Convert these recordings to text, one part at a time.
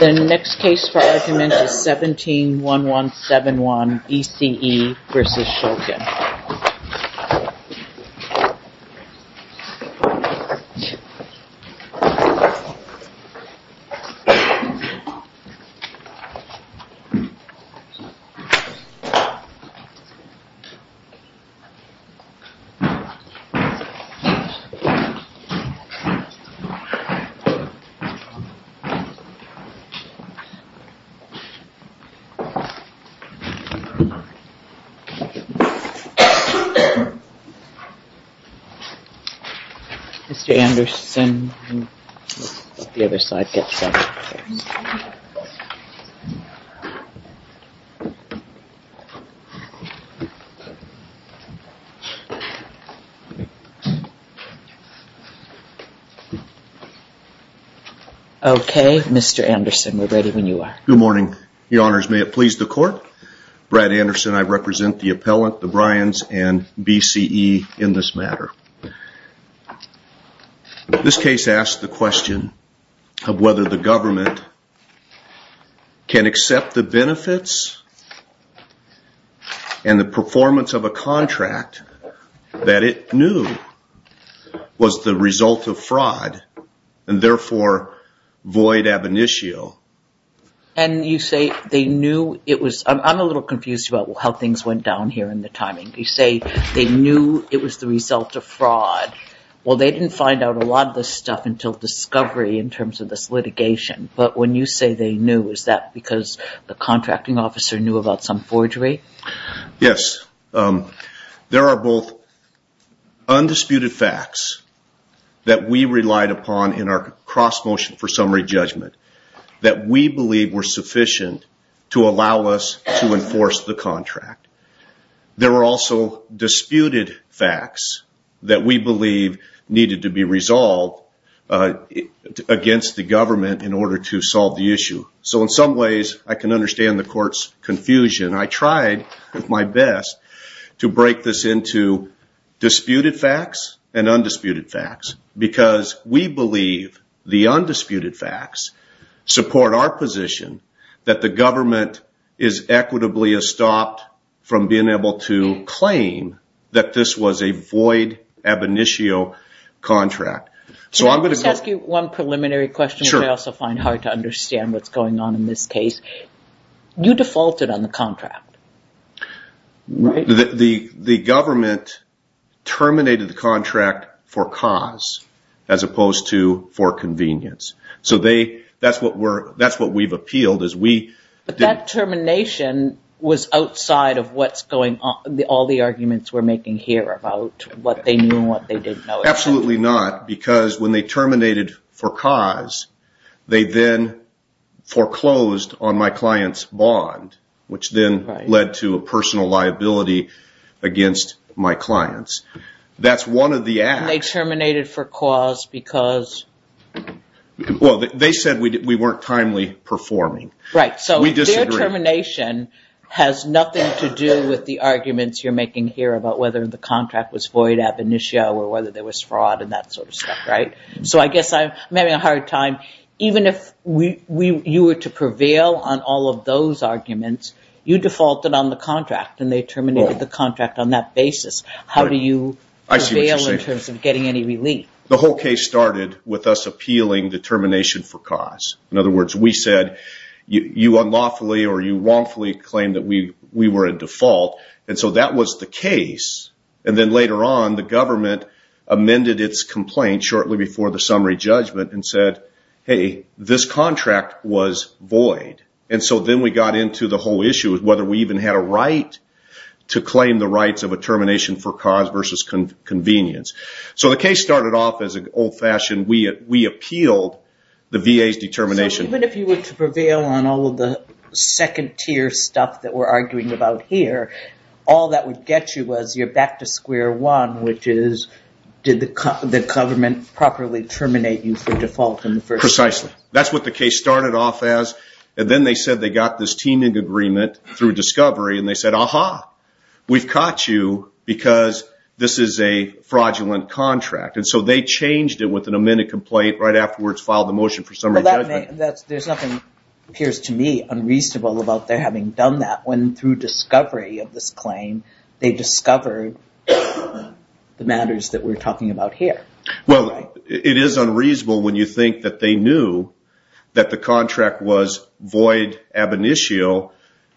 The next case for argument is 17-1171, ECE v. Shulkin. This case is 17-1171, ECE v. Shulkin. Okay, Mr. Anderson, we're ready when you are. Good morning, Your Honors. May it please the Court, Brad Anderson, I represent the appellant, the Bryans, and BCE in this matter. This case asks the question of whether the government can accept the benefits and the performance of a contract that it knew was the result of fraud and therefore void ab initio. And you say they knew it was, I'm a little confused about how things went down here in the timing. You say they knew it was the result of fraud. Well, they didn't find out a lot of this stuff until discovery in terms of this litigation. But when you say they knew, is that because the contracting officer knew about some forgery? Yes. There are both undisputed facts that we relied upon in our cross motion for summary judgment that we believe were sufficient to allow us to enforce the contract. There were also disputed facts that we believe needed to be resolved against the government in order to solve the issue. So in some ways, I can understand the Court's confusion. I tried my best to break this into disputed facts and undisputed facts because we believe the undisputed facts support our position that the government is equitably estopped from being able to claim that this was a void ab initio contract. Let me ask you one preliminary question. I also find it hard to understand what's going on in this case. You defaulted on the contract, right? The government terminated the contract for cause as opposed to for convenience. So that's what we've appealed. But that termination was outside of all the arguments we're making here about what they knew and what they didn't know. Absolutely not, because when they terminated for cause, they then foreclosed on my client's bond, which then led to a personal liability against my clients. That's one of the acts. They terminated for cause because? Well, they said we weren't timely performing. Right, so their termination has nothing to do with the arguments you're making here about whether the contract was void ab initio or whether there was fraud and that sort of stuff, right? So I guess I'm having a hard time. Even if you were to prevail on all of those arguments, you defaulted on the contract and they terminated the contract on that basis. How do you prevail in terms of getting any relief? The whole case started with us appealing the termination for cause. In other words, we said you unlawfully or you wrongfully claimed that we were a default, and so that was the case. And then later on, the government amended its complaint shortly before the summary judgment and said, hey, this contract was void. And so then we got into the whole issue of whether we even had a right to claim the rights of a termination for cause versus convenience. So the case started off as an old-fashioned, we appealed the VA's determination. So even if you were to prevail on all of the second-tier stuff that we're arguing about here, all that would get you was you're back to square one, which is did the government properly terminate you for default in the first place. Precisely. That's what the case started off as. And then they said they got this teaming agreement through discovery, and they said, aha, we've caught you because this is a fraudulent contract. And so they changed it with an amended complaint right afterwards, filed the motion for summary judgment. There's nothing, it appears to me, unreasonable about their having done that when through discovery of this claim they discovered the matters that we're talking about here. Well, it is unreasonable when you think that they knew that the contract was void ab initio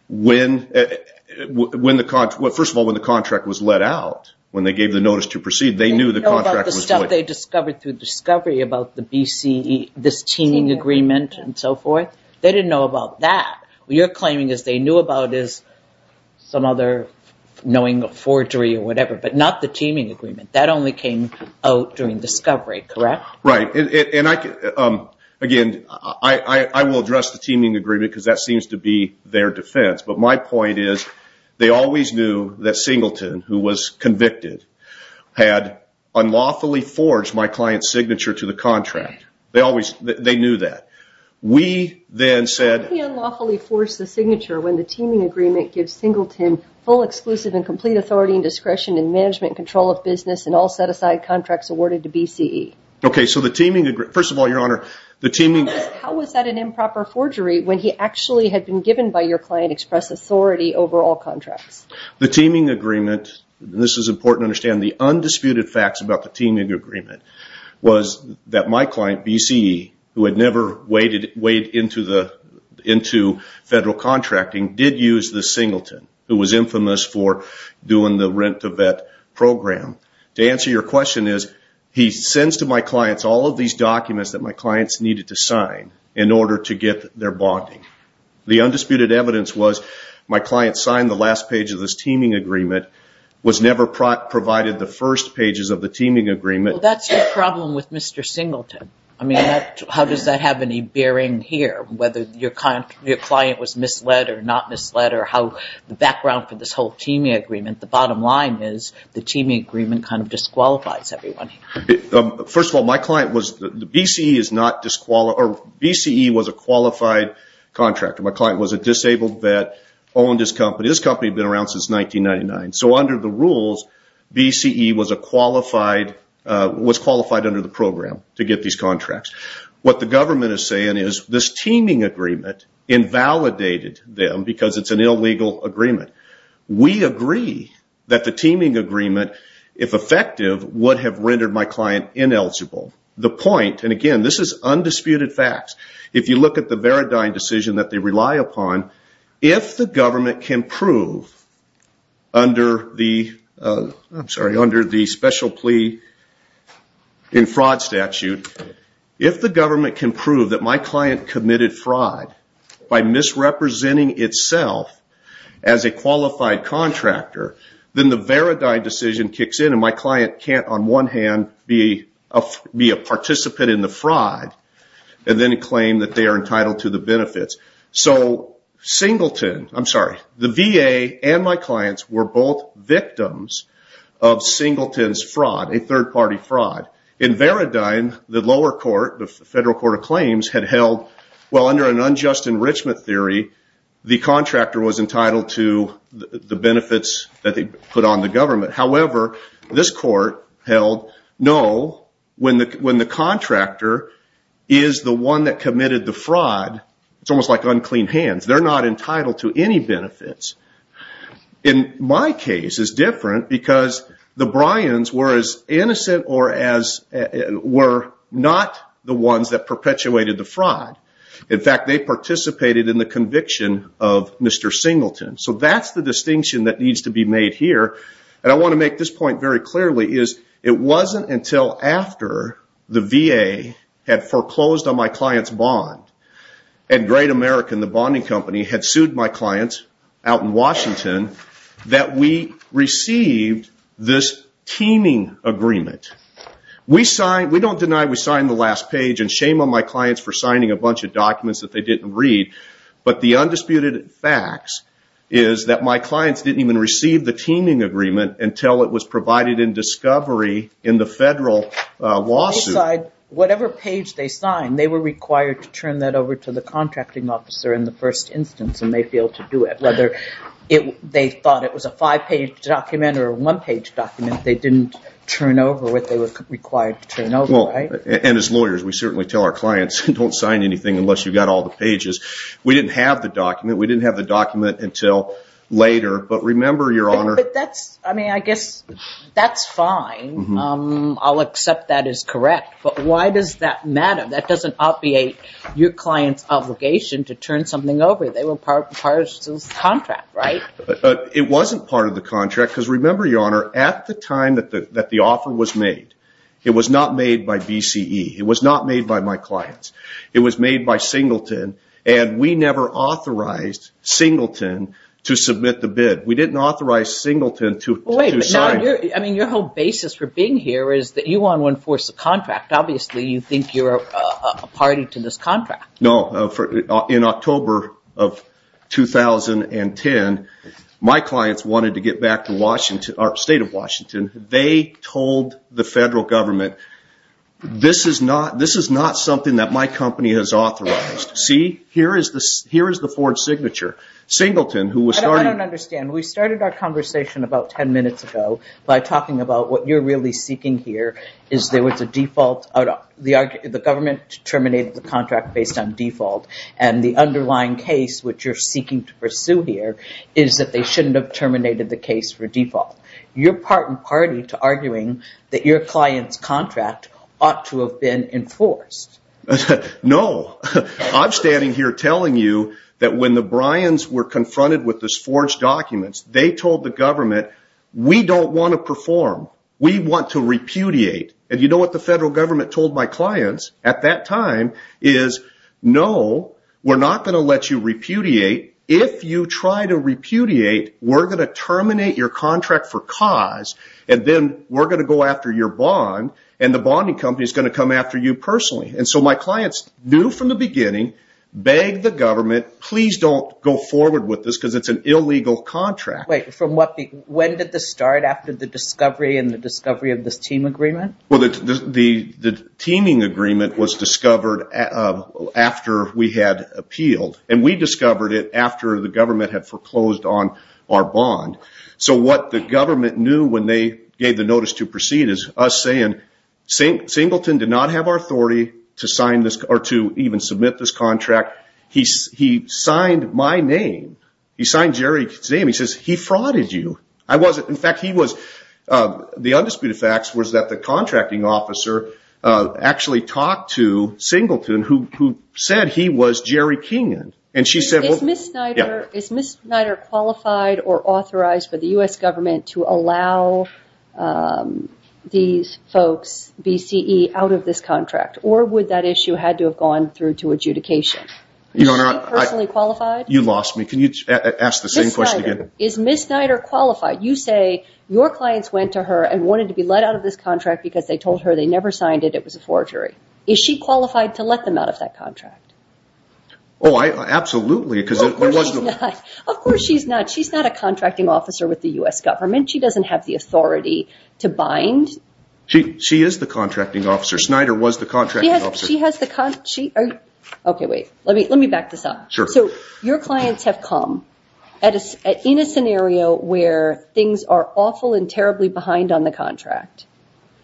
when the contract, well, first of all, when the contract was let out, when they gave the notice to proceed, they knew the contract was void. They didn't know about the stuff they discovered through discovery about the BCE, this teaming agreement and so forth. They didn't know about that. What you're claiming is they knew about is some other knowing of forgery or whatever, but not the teaming agreement. That only came out during discovery, correct? Right. And, again, I will address the teaming agreement because that seems to be their defense. But my point is they always knew that Singleton, who was convicted, had unlawfully forged my client's signature to the contract. They knew that. Why did he unlawfully force the signature when the teaming agreement gives Singleton full exclusive and complete authority and discretion in management and control of business and all set-aside contracts awarded to BCE? Okay, so the teaming agreement, first of all, Your Honor, the teaming… How was that an improper forgery when he actually had been given by your client express authority over all contracts? The teaming agreement, and this is important to understand, the undisputed facts about the teaming agreement was that my client, BCE, who had never weighed into federal contracting, did use the Singleton, who was infamous for doing the rent-to-vet program. To answer your question is he sends to my clients all of these documents that my clients needed to sign in order to get their bonding. The undisputed evidence was my client signed the last page of this teaming agreement, was never provided the first pages of the teaming agreement. Well, that's the problem with Mr. Singleton. I mean, how does that have any bearing here, whether your client was misled or not misled or how the background for this whole teaming agreement, the bottom line is the teaming agreement kind of disqualifies everyone. First of all, my client was… BCE was a qualified contractor. My client was a disabled vet, owned this company. This company had been around since 1999. So under the rules, BCE was qualified under the program to get these contracts. What the government is saying is this teaming agreement invalidated them because it's an illegal agreement. We agree that the teaming agreement, if effective, would have rendered my client ineligible. The point, and again, this is undisputed facts. If you look at the Veridine decision that they rely upon, if the government can prove under the special plea in fraud statute, if the government can prove that my client committed fraud by misrepresenting itself as a qualified contractor, then the Veridine decision kicks in and my client can't, on one hand, be a participant in the fraud and then claim that they are entitled to the benefits. So Singleton, I'm sorry, the VA and my clients were both victims of Singleton's fraud, a third-party fraud. In Veridine, the lower court, the Federal Court of Claims, had held, well, under an unjust enrichment theory, the contractor was entitled to the benefits that they put on the government. However, this court held, no, when the contractor is the one that committed the fraud, it's almost like unclean hands. They're not entitled to any benefits. In my case, it's different because the Bryans were as innocent or were not the ones that perpetuated the fraud. In fact, they participated in the conviction of Mr. Singleton. So that's the distinction that needs to be made here. And I want to make this point very clearly, is it wasn't until after the VA had foreclosed on my client's bond and Great American, the bonding company, had sued my clients out in Washington that we received this teeming agreement. We don't deny we signed the last page and shame on my clients for signing a bunch of documents that they didn't read, but the undisputed facts is that my clients didn't even receive the teeming agreement until it was provided in discovery in the federal lawsuit. Whatever page they signed, they were required to turn that over to the contracting officer in the first instance and they failed to do it. Whether they thought it was a five-page document or a one-page document, they didn't turn over what they were required to turn over, right? And as lawyers, we certainly tell our clients, don't sign anything unless you've got all the pages. We didn't have the document. We didn't have the document until later, but remember, Your Honor. But that's, I mean, I guess that's fine. I'll accept that as correct, but why does that matter? That doesn't obviate your client's obligation to turn something over. They were part of the contract, right? It wasn't part of the contract because remember, Your Honor, at the time that the offer was made, it was not made by VCE. It was not made by my clients. It was made by Singleton and we never authorized Singleton to submit the bid. We didn't authorize Singleton to sign. I mean, your whole basis for being here is that you want to enforce the contract. Obviously, you think you're a party to this contract. No. In October of 2010, my clients wanted to get back to Washington, they told the federal government, this is not something that my company has authorized. See? Here is the Ford signature. Singleton, who was starting. I don't understand. We started our conversation about ten minutes ago by talking about what you're really seeking here is there was a default. The government terminated the contract based on default and the underlying case, which you're seeking to pursue here, is that they shouldn't have terminated the case for default. You're part and party to arguing that your client's contract ought to have been enforced. No. I'm standing here telling you that when the Bryans were confronted with this forged document, they told the government, we don't want to perform. We want to repudiate. And you know what the federal government told my clients at that time is, no, we're not going to let you repudiate. If you try to repudiate, we're going to terminate your contract for cause and then we're going to go after your bond and the bonding company is going to come after you personally. And so my clients knew from the beginning, begged the government, please don't go forward with this because it's an illegal contract. Wait. When did this start after the discovery and the discovery of this team agreement? Well, the teaming agreement was discovered after we had appealed and we discovered it after the government had foreclosed on our bond. So what the government knew when they gave the notice to proceed is us saying, Singleton did not have our authority to sign this or to even submit this contract. He signed my name. He signed Jerry's name. He says, he frauded you. I wasn't. In fact, he was. The undisputed facts was that the contracting officer actually talked to Singleton, who said he was Jerry Kingan. Is Ms. Snyder qualified or authorized by the U.S. government to allow these folks, BCE, out of this contract? Or would that issue had to have gone through to adjudication? Is she personally qualified? You lost me. Can you ask the same question again? Is Ms. Snyder qualified? You say your clients went to her and wanted to be let out of this contract because they told her they never signed it, it was a forgery. Is she qualified to let them out of that contract? Oh, absolutely. Of course she's not. She's not a contracting officer with the U.S. government. She doesn't have the authority to bind. She is the contracting officer. Snyder was the contracting officer. Okay, wait. Let me back this up. Sure. So your clients have come in a scenario where things are awful and terribly behind on the contract.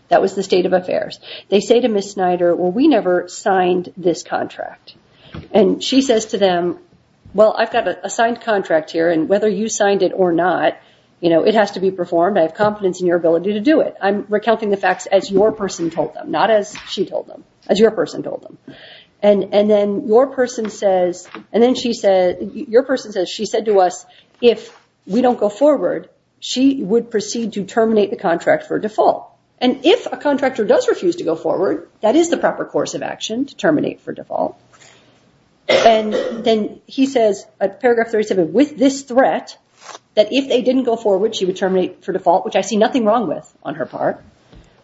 That was the state of affairs. They say to Ms. Snyder, well, we never signed this contract. And she says to them, well, I've got a signed contract here, and whether you signed it or not, you know, it has to be performed. I have confidence in your ability to do it. I'm recounting the facts as your person told them, not as she told them, as your person told them. And then your person says, she said to us, if we don't go forward, she would proceed to terminate the contract for default. And if a contractor does refuse to go forward, that is the proper course of action to terminate for default. And then he says at paragraph 37, with this threat, that if they didn't go forward, she would terminate for default, which I see nothing wrong with on her part.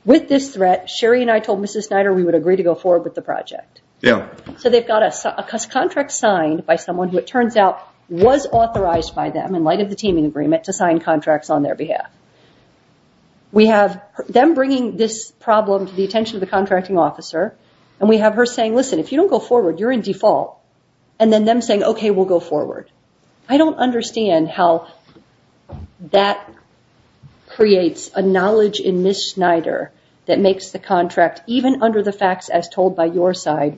With this threat, Sherry and I told Ms. Snyder we would agree to go forward with the project. So they've got a contract signed by someone who, it turns out, was authorized by them in light of the teaming agreement to sign contracts on their behalf. We have them bringing this problem to the attention of the contracting officer, and we have her saying, listen, if you don't go forward, you're in default. And then them saying, okay, we'll go forward. I don't understand how that creates a knowledge in Ms. Snyder that makes the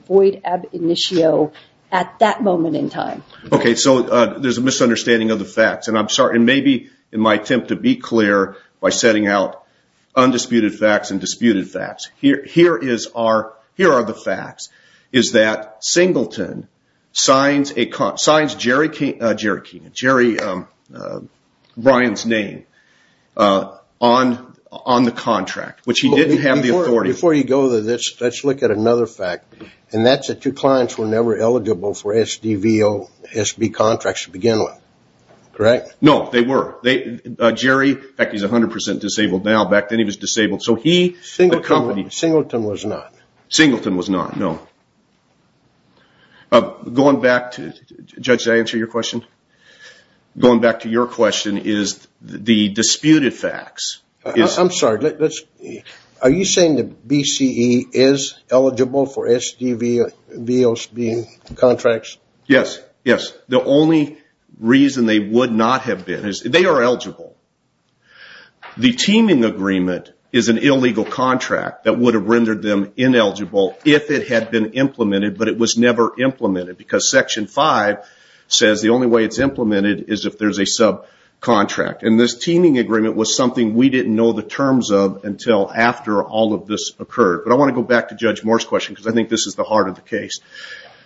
void ab initio at that moment in time. Okay, so there's a misunderstanding of the facts. And maybe in my attempt to be clear by setting out undisputed facts and disputed facts, here are the facts. It's that Singleton signs Jerry Ryan's name on the contract, which he didn't have the authority. Before you go to this, let's look at another fact, and that's that your clients were never eligible for SDVO, SB contracts to begin with, correct? No, they were. Jerry, in fact, he's 100% disabled now. Back then he was disabled. So he, the company. Singleton was not. Singleton was not, no. Going back to, Judge, did I answer your question? Going back to your question is the disputed facts. I'm sorry. Are you saying that BCE is eligible for SDVO, SB contracts? Yes. Yes. The only reason they would not have been is they are eligible. The teaming agreement is an illegal contract that would have rendered them ineligible if it had been implemented, but it was never implemented. Because Section 5 says the only way it's implemented is if there's a subcontract. And this teaming agreement was something we didn't know the terms of until after all of this occurred. But I want to go back to Judge Moore's question, because I think this is the heart of the case.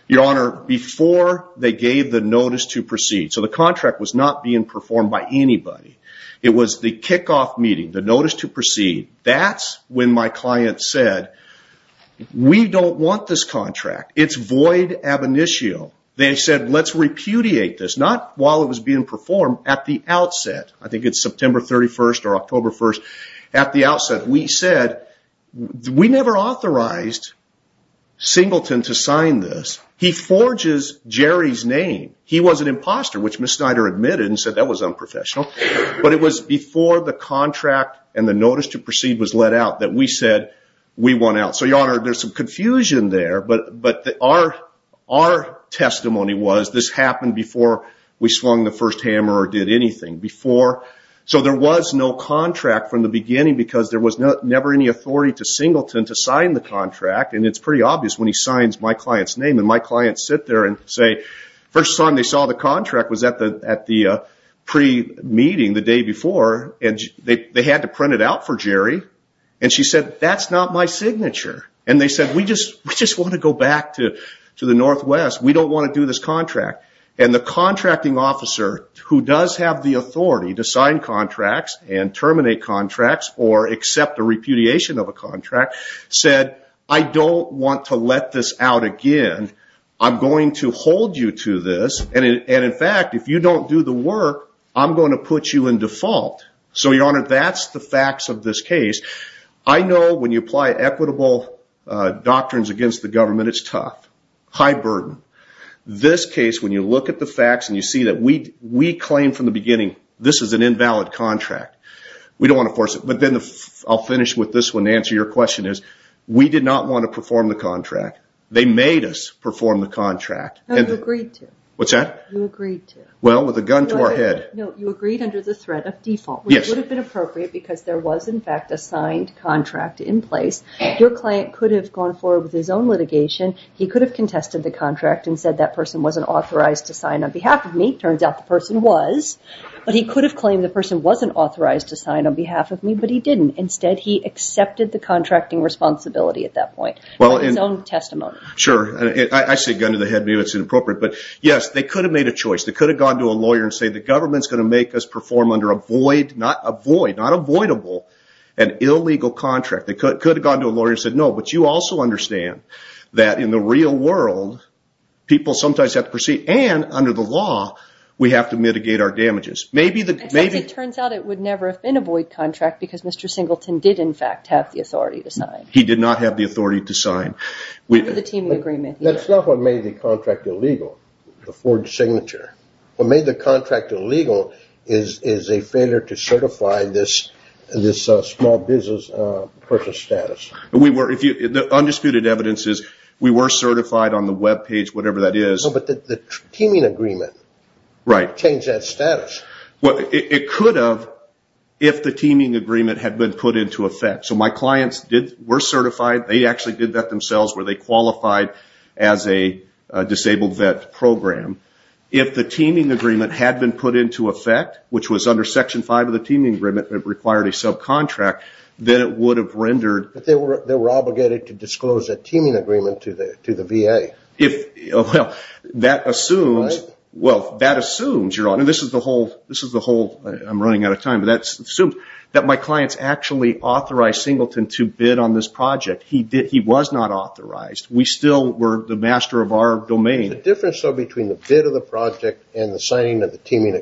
Your Honor, before they gave the notice to proceed, so the contract was not being performed by anybody. It was the kickoff meeting, the notice to proceed. That's when my client said, we don't want this contract. It's void ab initio. They said, let's repudiate this. Not while it was being performed, at the outset. I think it's September 31st or October 1st. At the outset, we said, we never authorized Singleton to sign this. He forges Jerry's name. He was an imposter, which Ms. Snyder admitted and said that was unprofessional. But it was before the contract and the notice to proceed was let out that we said we want out. So, Your Honor, there's some confusion there, but our testimony was this happened before we swung the first hammer or did anything. So there was no contract from the beginning, because there was never any authority to Singleton to sign the contract. And it's pretty obvious when he signs my client's name. And my clients sit there and say, the first time they saw the contract was at the pre-meeting the day before. And they had to print it out for Jerry. And she said, that's not my signature. And they said, we just want to go back to the Northwest. We don't want to do this contract. And the contracting officer, who does have the authority to sign contracts and terminate contracts or accept a repudiation of a contract, said, I don't want to let this out again. I'm going to hold you to this. And, in fact, if you don't do the work, I'm going to put you in default. So, Your Honor, that's the facts of this case. I know when you apply equitable doctrines against the government, it's tough. High burden. This case, when you look at the facts and you see that we claim from the beginning, this is an invalid contract. We don't want to force it. But then I'll finish with this one to answer your question is, we did not want to perform the contract. They made us perform the contract. No, you agreed to. What's that? You agreed to. Well, with a gun to our head. No, you agreed under the threat of default. Yes. Which would have been appropriate because there was, in fact, a signed contract in place. Your client could have gone forward with his own litigation. He could have contested the contract and said, that person wasn't authorized to sign on behalf of me. Turns out the person was. But he could have claimed the person wasn't authorized to sign on behalf of me, but he didn't. Instead, he accepted the contracting responsibility at that point. His own testimony. Sure. I say gun to the head. Maybe that's inappropriate. But, yes, they could have made a choice. They could have gone to a lawyer and said, the government's going to make us perform under a void, not avoid, not avoidable, an illegal contract. They could have gone to a lawyer and said, no. But you also understand that, in the real world, people sometimes have to proceed. And, under the law, we have to mitigate our damages. It turns out it would never have been a void contract because Mr. Singleton did, in fact, have the authority to sign. He did not have the authority to sign. Under the team agreement, yes. That's not what made the contract illegal, the Ford signature. What made the contract illegal is a failure to certify this small business person's status. The undisputed evidence is we were certified on the web page, whatever that is. But the teaming agreement changed that status. It could have if the teaming agreement had been put into effect. So my clients were certified. They actually did that themselves where they qualified as a disabled vet program. If the teaming agreement had been put into effect, which was under Section 5 of the teaming agreement that required a subcontract, then it would have rendered. But they were obligated to disclose a teaming agreement to the VA. Well, that assumes, Your Honor, this is the whole, I'm running out of time, but that assumes that my clients actually authorized Singleton to bid on this project. He was not authorized. We still were the master of our domain. The difference, though, between the bid of the project and the signing of the teaming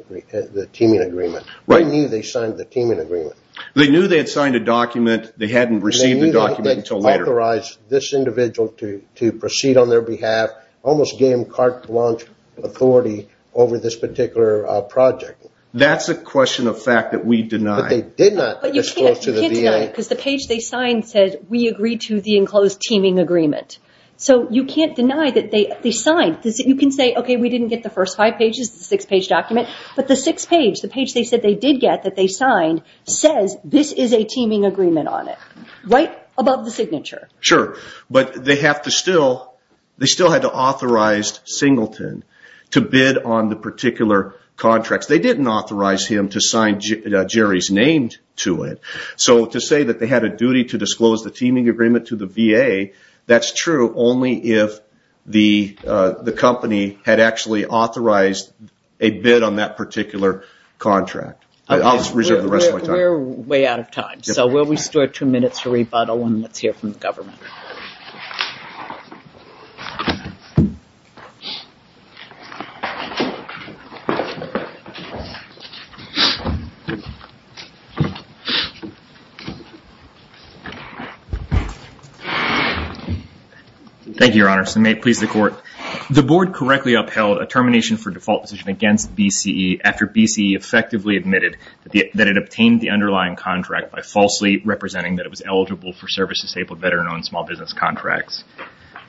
agreement, they knew they signed the teaming agreement. They knew they had signed a document. They hadn't received the document until later. They knew they had authorized this individual to proceed on their behalf, almost game cart launch authority over this particular project. That's a question of fact that we deny. But they did not disclose to the VA. But you can't deny it because the page they signed said, we agree to the enclosed teaming agreement. So you can't deny that they signed. You can say, okay, we didn't get the first five pages, the six-page document. But the six-page, the page they said they did get that they signed, says this is a teaming agreement on it, right above the signature. Sure. But they still had to authorize Singleton to bid on the particular contracts. They didn't authorize him to sign Jerry's name to it. So to say that they had a duty to disclose the teaming agreement to the VA, that's true only if the company had actually authorized a bid on that particular contract. I'll reserve the rest of my time. We're way out of time. So we'll restore two minutes for rebuttal and let's hear from the government. Thank you, Your Honor. So may it please the court. The board correctly upheld a termination for default position against BCE after BCE effectively admitted that it obtained the underlying contract by falsely representing that it was eligible for service-disabled veteran-owned small business contracts.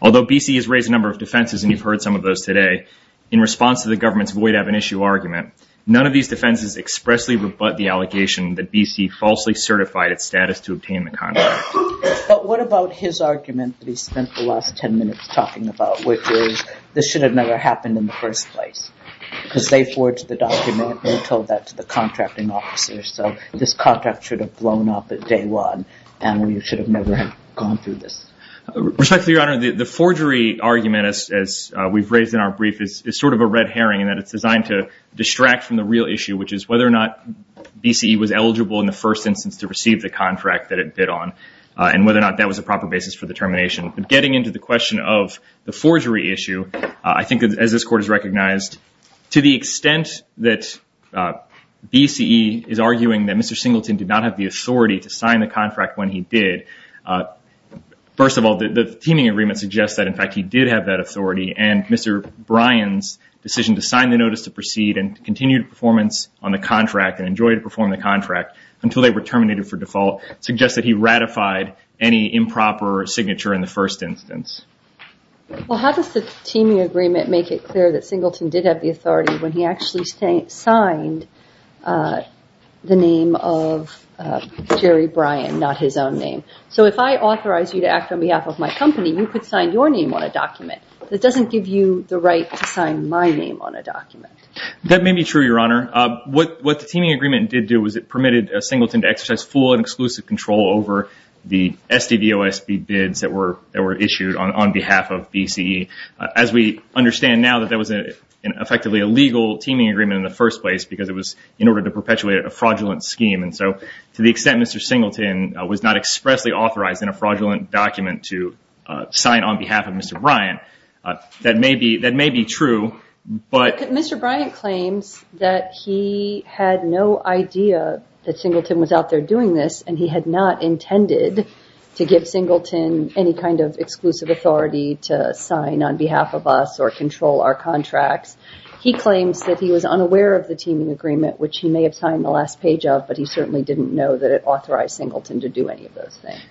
Although BCE has raised a number of defenses, and you've heard some of those today, in response to the government's void of an issue argument, none of these defenses expressly rebut the allegation that BC falsely certified its status to obtain the contract. But what about his argument that he spent the last 10 minutes talking about, which is this should have never happened in the first place, because they forged the document and told that to the contracting officer. So this contract should have blown up at day one and we should have never gone through this. Respectfully, Your Honor, the forgery argument, as we've raised in our brief, is sort of a red herring in that it's designed to distract from the real issue, which is whether or not BCE was eligible in the first instance to receive the contract that it bid on and whether or not that was a proper basis for the termination. But getting into the question of the forgery issue, I think, as this Court has recognized, to the extent that BCE is arguing that Mr. Singleton did not have the authority to sign the contract when he did, first of all, the teaming agreement suggests that, in fact, he did have that authority. And Mr. Bryan's decision to sign the notice to proceed and continue performance on the contract and enjoy to perform the contract until they were terminated for default suggests that he ratified any improper signature in the first instance. Well, how does the teaming agreement make it clear that Singleton did have the authority when he actually signed the name of Jerry Bryan, not his own name? So if I authorize you to act on behalf of my company, you could sign your name on a document. That doesn't give you the right to sign my name on a document. That may be true, Your Honor. What the teaming agreement did do was it permitted Singleton to exercise full and exclusive control over the SDVOSB bids that were issued on behalf of BCE. As we understand now that that was effectively a legal teaming agreement in the first place because it was in order to perpetuate a fraudulent scheme. And so to the extent Mr. Singleton was not expressly authorized in a fraudulent document to sign on behalf of Mr. Bryan, that may be true. Mr. Bryan claims that he had no idea that Singleton was out there doing this and he had not intended to give Singleton any kind of exclusive authority to sign on behalf of us or control our contracts. He claims that he was unaware of the teaming agreement, which he may have signed the last page of, but he certainly didn't know that it authorized Singleton to do any of those things.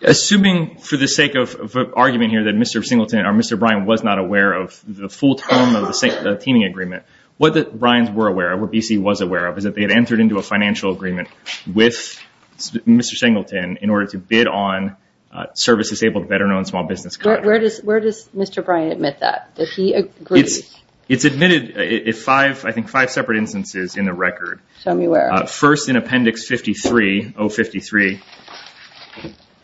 Assuming for the sake of argument here that Mr. Singleton or Mr. Bryan was not aware of the full term of the teaming agreement, what the Bryans were aware of, what BCE was aware of, is that they had entered into a financial agreement with Mr. Singleton in order to bid on service-disabled, veteran-owned small business contracts. Where does Mr. Bryan admit that? Does he agree? It's admitted in five separate instances in the record. Show me where. First, in appendix 53, O53,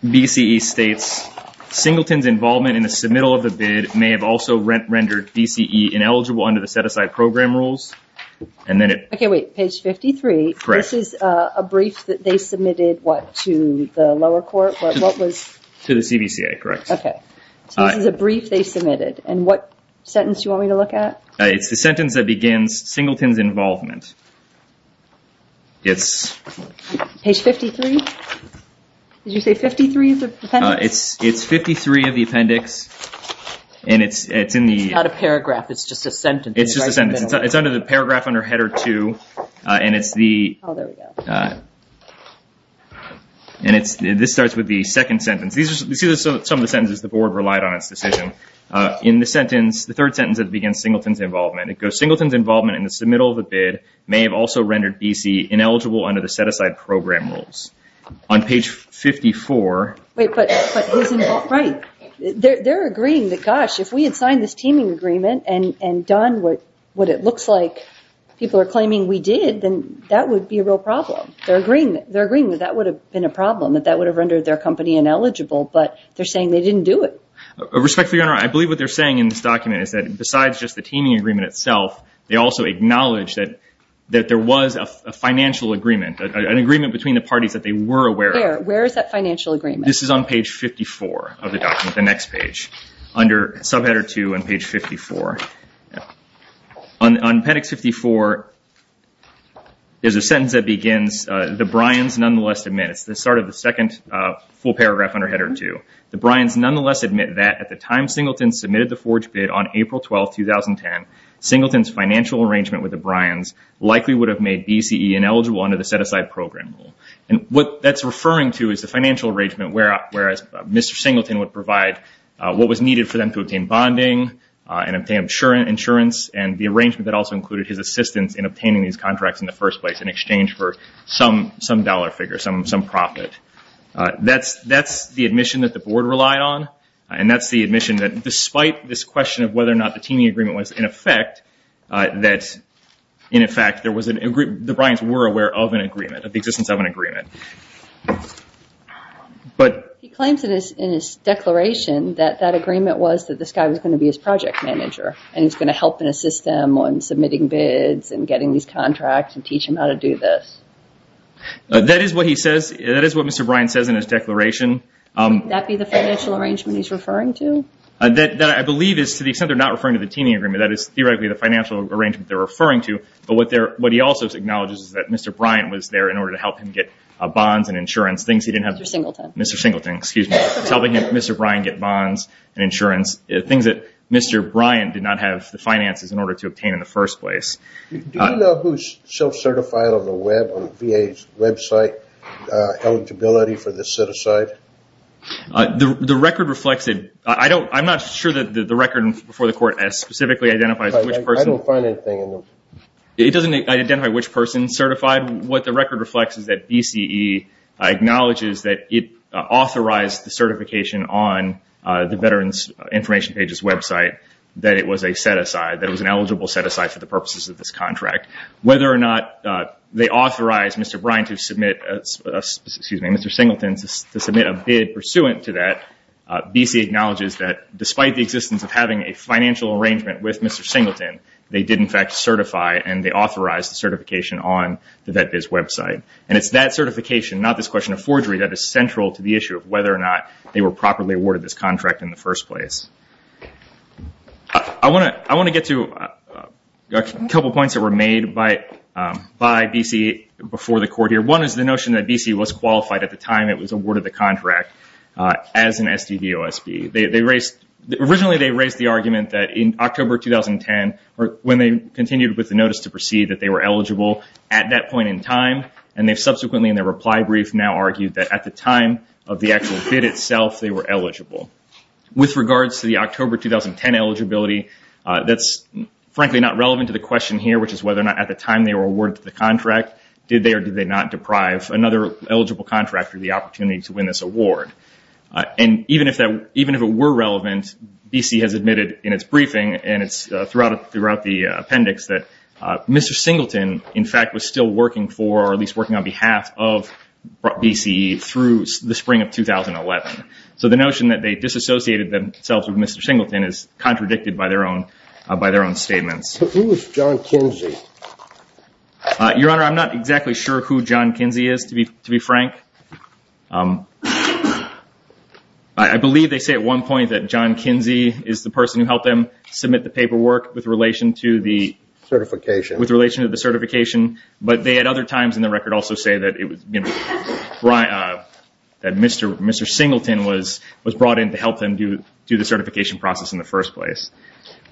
BCE states, Singleton's involvement in the submittal of the bid may have also rendered BCE ineligible under the set-aside program rules. Okay, wait. Page 53, this is a brief that they submitted, what, to the lower court? To the CBCA, correct. Okay. So this is a brief they submitted, and what sentence do you want me to look at? It's the sentence that begins, Singleton's involvement. Page 53? Did you say 53 is the appendix? It's 53 of the appendix, and it's in the- It's not a paragraph, it's just a sentence. It's just a sentence. It's under the paragraph under header two, and it's the- Oh, there we go. And this starts with the second sentence. These are some of the sentences the board relied on in its decision. In the sentence, the third sentence that begins, Singleton's involvement, it goes, Singleton's involvement in the submittal of the bid may have also rendered BCE ineligible under the set-aside program rules. On page 54- Wait, but who's involved? Right. They're agreeing that, gosh, if we had signed this teaming agreement and done what it looks like people are claiming we did, then that would be a real problem. They're agreeing that that would have been a problem, that that would have rendered their company ineligible, but they're saying they didn't do it. Respectfully, Your Honor, I believe what they're saying in this document is that besides just the teaming agreement itself, they also acknowledge that there was a financial agreement, an agreement between the parties that they were aware of. Where? Where is that financial agreement? This is on page 54 of the document, the next page, under subheader two on page 54. On appendix 54, there's a sentence that begins, the Bryans nonetheless admit- It's the start of the second full paragraph under header two. The Bryans nonetheless admit that at the time Singleton submitted the forge bid on April 12, 2010, Singleton's financial arrangement with the Bryans likely would have made BCE ineligible under the set-aside program rule. And what that's referring to is the financial arrangement, whereas Mr. Singleton would provide what was needed for them to obtain bonding and obtain insurance and the arrangement that also included his assistance in obtaining these contracts in the first place in exchange for some dollar figure, some profit. That's the admission that the board relied on, and that's the admission that despite this question of whether or not the teaming agreement was in effect, that in effect the Bryans were aware of an agreement, of the existence of an agreement. He claims in his declaration that that agreement was that this guy was going to be his project manager and he's going to help and assist them on submitting bids and getting these contracts and teach them how to do this. That is what he says. That is what Mr. Bryans says in his declaration. Would that be the financial arrangement he's referring to? That I believe is to the extent they're not referring to the teaming agreement. That is theoretically the financial arrangement they're referring to, but what he also acknowledges is that Mr. Bryans was there in order to help him get bonds and insurance, things he didn't have. Mr. Singleton. Mr. Singleton, excuse me. Helping Mr. Bryans get bonds and insurance, things that Mr. Bryans did not have the finances in order to obtain in the first place. Do you know who's self-certified on the web, on VA's website, eligibility for the set-aside? The record reflects it. I'm not sure that the record before the court specifically identifies which person. I don't find anything in them. It doesn't identify which person is certified. What the record reflects is that BCE acknowledges that it authorized the certification on the Veterans Information Pages website that it was a set-aside, that it was an eligible set-aside for the purposes of this contract. Whether or not they authorized Mr. Bryans to submit a bid pursuant to that, BCE acknowledges that despite the existence of having a financial arrangement with Mr. Singleton, they did in fact certify and they authorized the certification on the VetBiz website. And it's that certification, not this question of forgery, that is central to the issue of whether or not they were properly awarded this contract in the first place. I want to get to a couple points that were made by BCE before the court here. One is the notion that BCE was qualified at the time it was awarded the contract as an SDV OSB. Originally, they raised the argument that in October 2010, when they continued with the notice to proceed, that they were eligible at that point in time. And they've subsequently in their reply brief now argued that at the time of the actual bid itself, they were eligible. With regards to the October 2010 eligibility, that's frankly not relevant to the question here, which is whether or not at the time they were awarded the contract, did they or did they not deprive another eligible contractor the opportunity to win this award? And even if it were relevant, BCE has admitted in its briefing and throughout the appendix, that Mr. Singleton, in fact, was still working for or at least working on behalf of BCE through the spring of 2011. So the notion that they disassociated themselves with Mr. Singleton is contradicted by their own statements. Who is John Kinsey? Your Honor, I'm not exactly sure who John Kinsey is, to be frank. I believe they say at one point that John Kinsey is the person who helped them submit the paperwork with relation to the certification. But they at other times in the record also say that Mr. Singleton was brought in to help them do the certification process in the first place.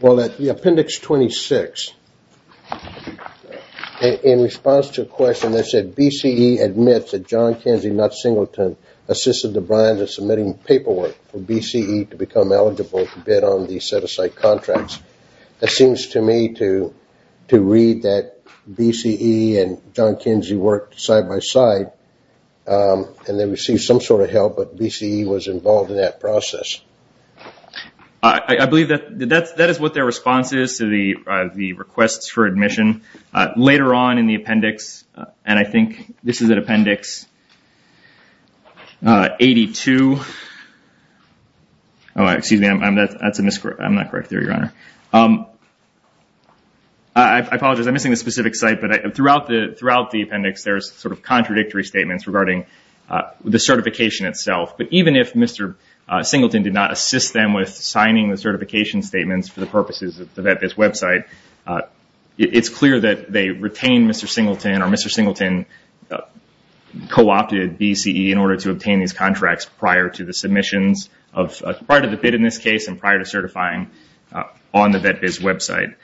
Well, at the appendix 26, in response to a question that said BCE admits that John Kinsey, not Singleton, assisted the brines in submitting paperwork for BCE to become eligible to bid on the set-aside contracts, it seems to me to read that BCE and John Kinsey worked side-by-side and they received some sort of help, but BCE was involved in that process. I believe that is what their response is to the requests for admission. Later on in the appendix, and I think this is at appendix 82. I apologize, I'm missing a specific site, but throughout the appendix there's sort of contradictory statements regarding the certification itself. But even if Mr. Singleton did not assist them with signing the certification statements for the purposes of the VetBiz website, it's clear that they retained Mr. Singleton or Mr. Singleton co-opted BCE in order to obtain these contracts prior to the submissions, prior to the bid in this case and prior to certifying on the VetBiz website.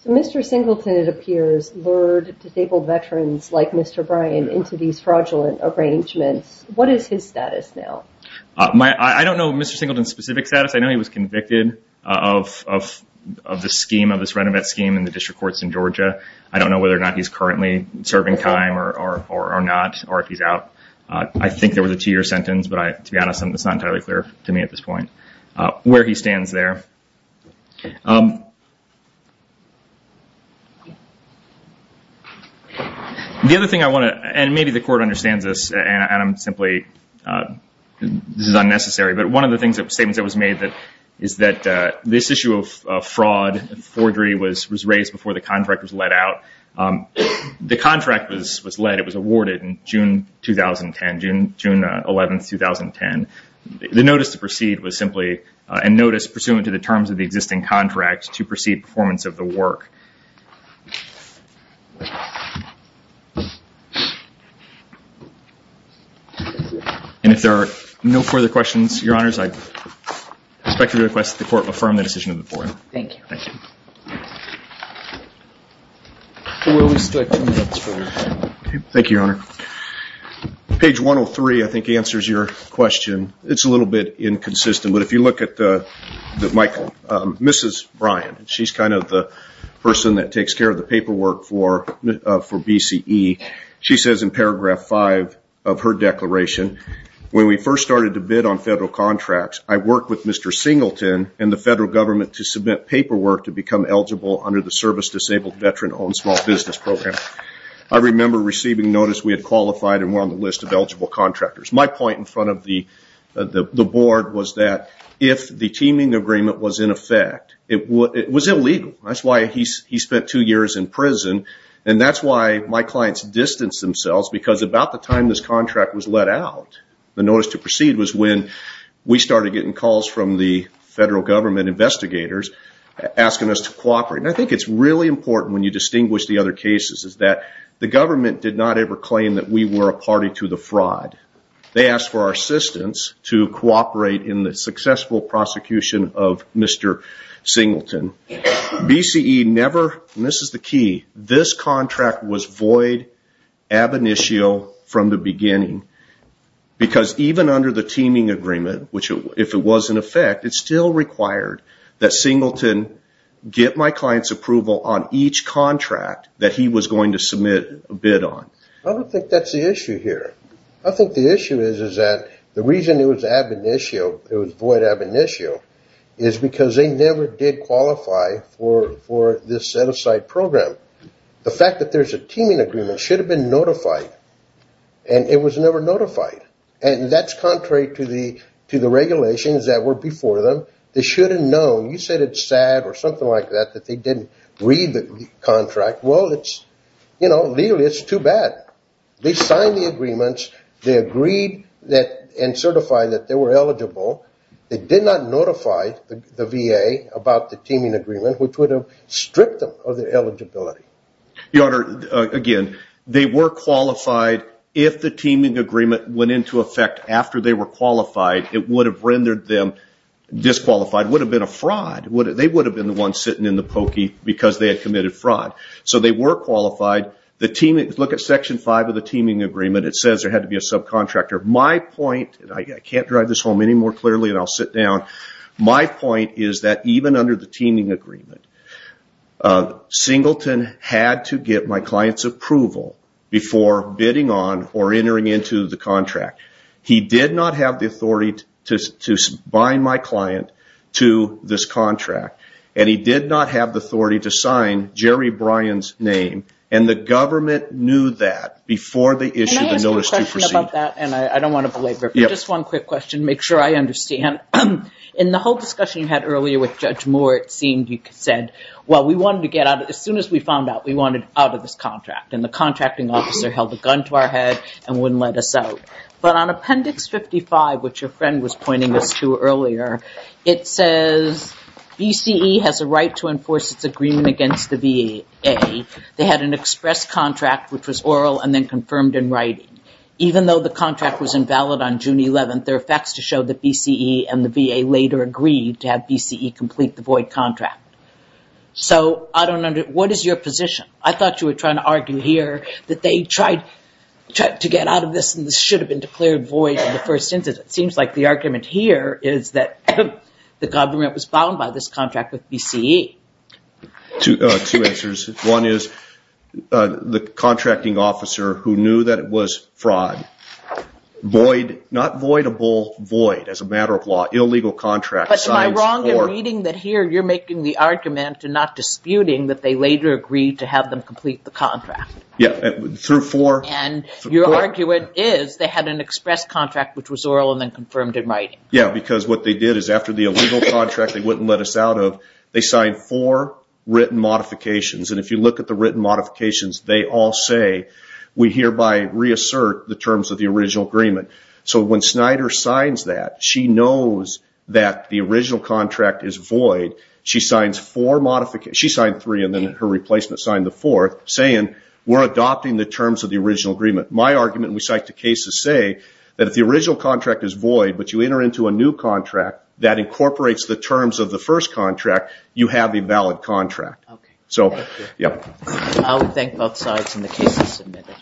So Mr. Singleton, it appears, lured disabled veterans like Mr. Bryan into these fraudulent arrangements. What is his status now? I don't know Mr. Singleton's specific status. I know he was convicted of this scheme, of this renovate scheme in the district courts in Georgia. I don't know whether or not he's currently serving time or not or if he's out. I think there was a two-year sentence, but to be honest, it's not entirely clear to me at this point where he stands there. The other thing I want to, and maybe the court understands this and I'm simply, this is unnecessary, but one of the statements that was made is that this issue of fraud, forgery, was raised before the contract was let out. The contract was let, it was awarded in June 2010, June 11, 2010. The notice to proceed was simply a notice pursuant to the terms of the existing contract to proceed performance of the work. And if there are no further questions, Your Honors, I expect to request that the court affirm the decision of the court. Thank you. Thank you, Your Honor. Page 103, I think, answers your question. It's a little bit inconsistent, but if you look at the, Michael, Mrs. Bryan, she's kind of the person that takes care of the paperwork for BCE. She says in paragraph five of her declaration, when we first started to bid on federal contracts, I worked with Mr. Singleton and the federal government to submit paperwork to become eligible under the service-disabled veteran-owned small business program. I remember receiving notice we had qualified and were on the list of eligible contractors. My point in front of the board was that if the teaming agreement was in effect, it was illegal. That's why he spent two years in prison, and that's why my clients distanced themselves, because about the time this contract was let out, the notice to proceed was when we started getting calls I think it's really important when you distinguish the other cases, is that the government did not ever claim that we were a party to the fraud. They asked for our assistance to cooperate in the successful prosecution of Mr. Singleton. BCE never, and this is the key, this contract was void ab initio from the beginning, because even under the teaming agreement, which if it was in effect, it still required that Singleton get my client's approval on each contract that he was going to submit a bid on. I don't think that's the issue here. I think the issue is that the reason it was ab initio, it was void ab initio, is because they never did qualify for this set-aside program. The fact that there's a teaming agreement should have been notified, and it was never notified. That's contrary to the regulations that were before them. They should have known. You said it's sad or something like that, that they didn't read the contract. Well, legally it's too bad. They signed the agreements. They agreed and certified that they were eligible. They did not notify the VA about the teaming agreement, which would have stripped them of their eligibility. Your Honor, again, they were qualified if the teaming agreement went into effect after they were qualified. It would have rendered them disqualified. It would have been a fraud. They would have been the ones sitting in the pokey because they had committed fraud. So they were qualified. Look at Section 5 of the teaming agreement. It says there had to be a subcontractor. My point, and I can't drive this home any more clearly and I'll sit down, my point is that even under the teaming agreement, Singleton had to get my client's approval before bidding on or entering into the contract. He did not have the authority to bind my client to this contract, and he did not have the authority to sign Jerry Bryan's name, and the government knew that before they issued the notice to proceed. Can I ask a question about that? I don't want to belabor it, but just one quick question to make sure I understand. In the whole discussion you had earlier with Judge Moore, it seemed you said, well, we wanted to get out, as soon as we found out, we wanted out of this contract, and the contracting officer held a gun to our head and wouldn't let us out. But on Appendix 55, which your friend was pointing us to earlier, it says BCE has a right to enforce its agreement against the VA. They had an express contract which was oral and then confirmed in writing. Even though the contract was invalid on June 11th, there are facts to show that BCE and the VA later agreed to have BCE complete the void contract. So what is your position? I thought you were trying to argue here that they tried to get out of this, and this should have been declared void in the first instance. It seems like the argument here is that the government was bound by this contract with BCE. Two answers. One is the contracting officer, who knew that it was fraud, void, not voidable, void, as a matter of law, illegal contract. But am I wrong in reading that here you're making the argument and not disputing that they later agreed to have them complete the contract? Yeah, through four. And your argument is they had an express contract which was oral and then confirmed in writing. Yeah, because what they did is after the illegal contract they wouldn't let us out of, they signed four written modifications. And if you look at the written modifications, they all say, we hereby reassert the terms of the original agreement. So when Snyder signs that, she knows that the original contract is void. She signed three and then her replacement signed the fourth, saying we're adopting the terms of the original agreement. My argument, and we cite the cases, say that if the original contract is void, but you enter into a new contract that incorporates the terms of the first contract, you have a valid contract. Okay, thank you. So, yeah. I would thank both sides on the cases submitted.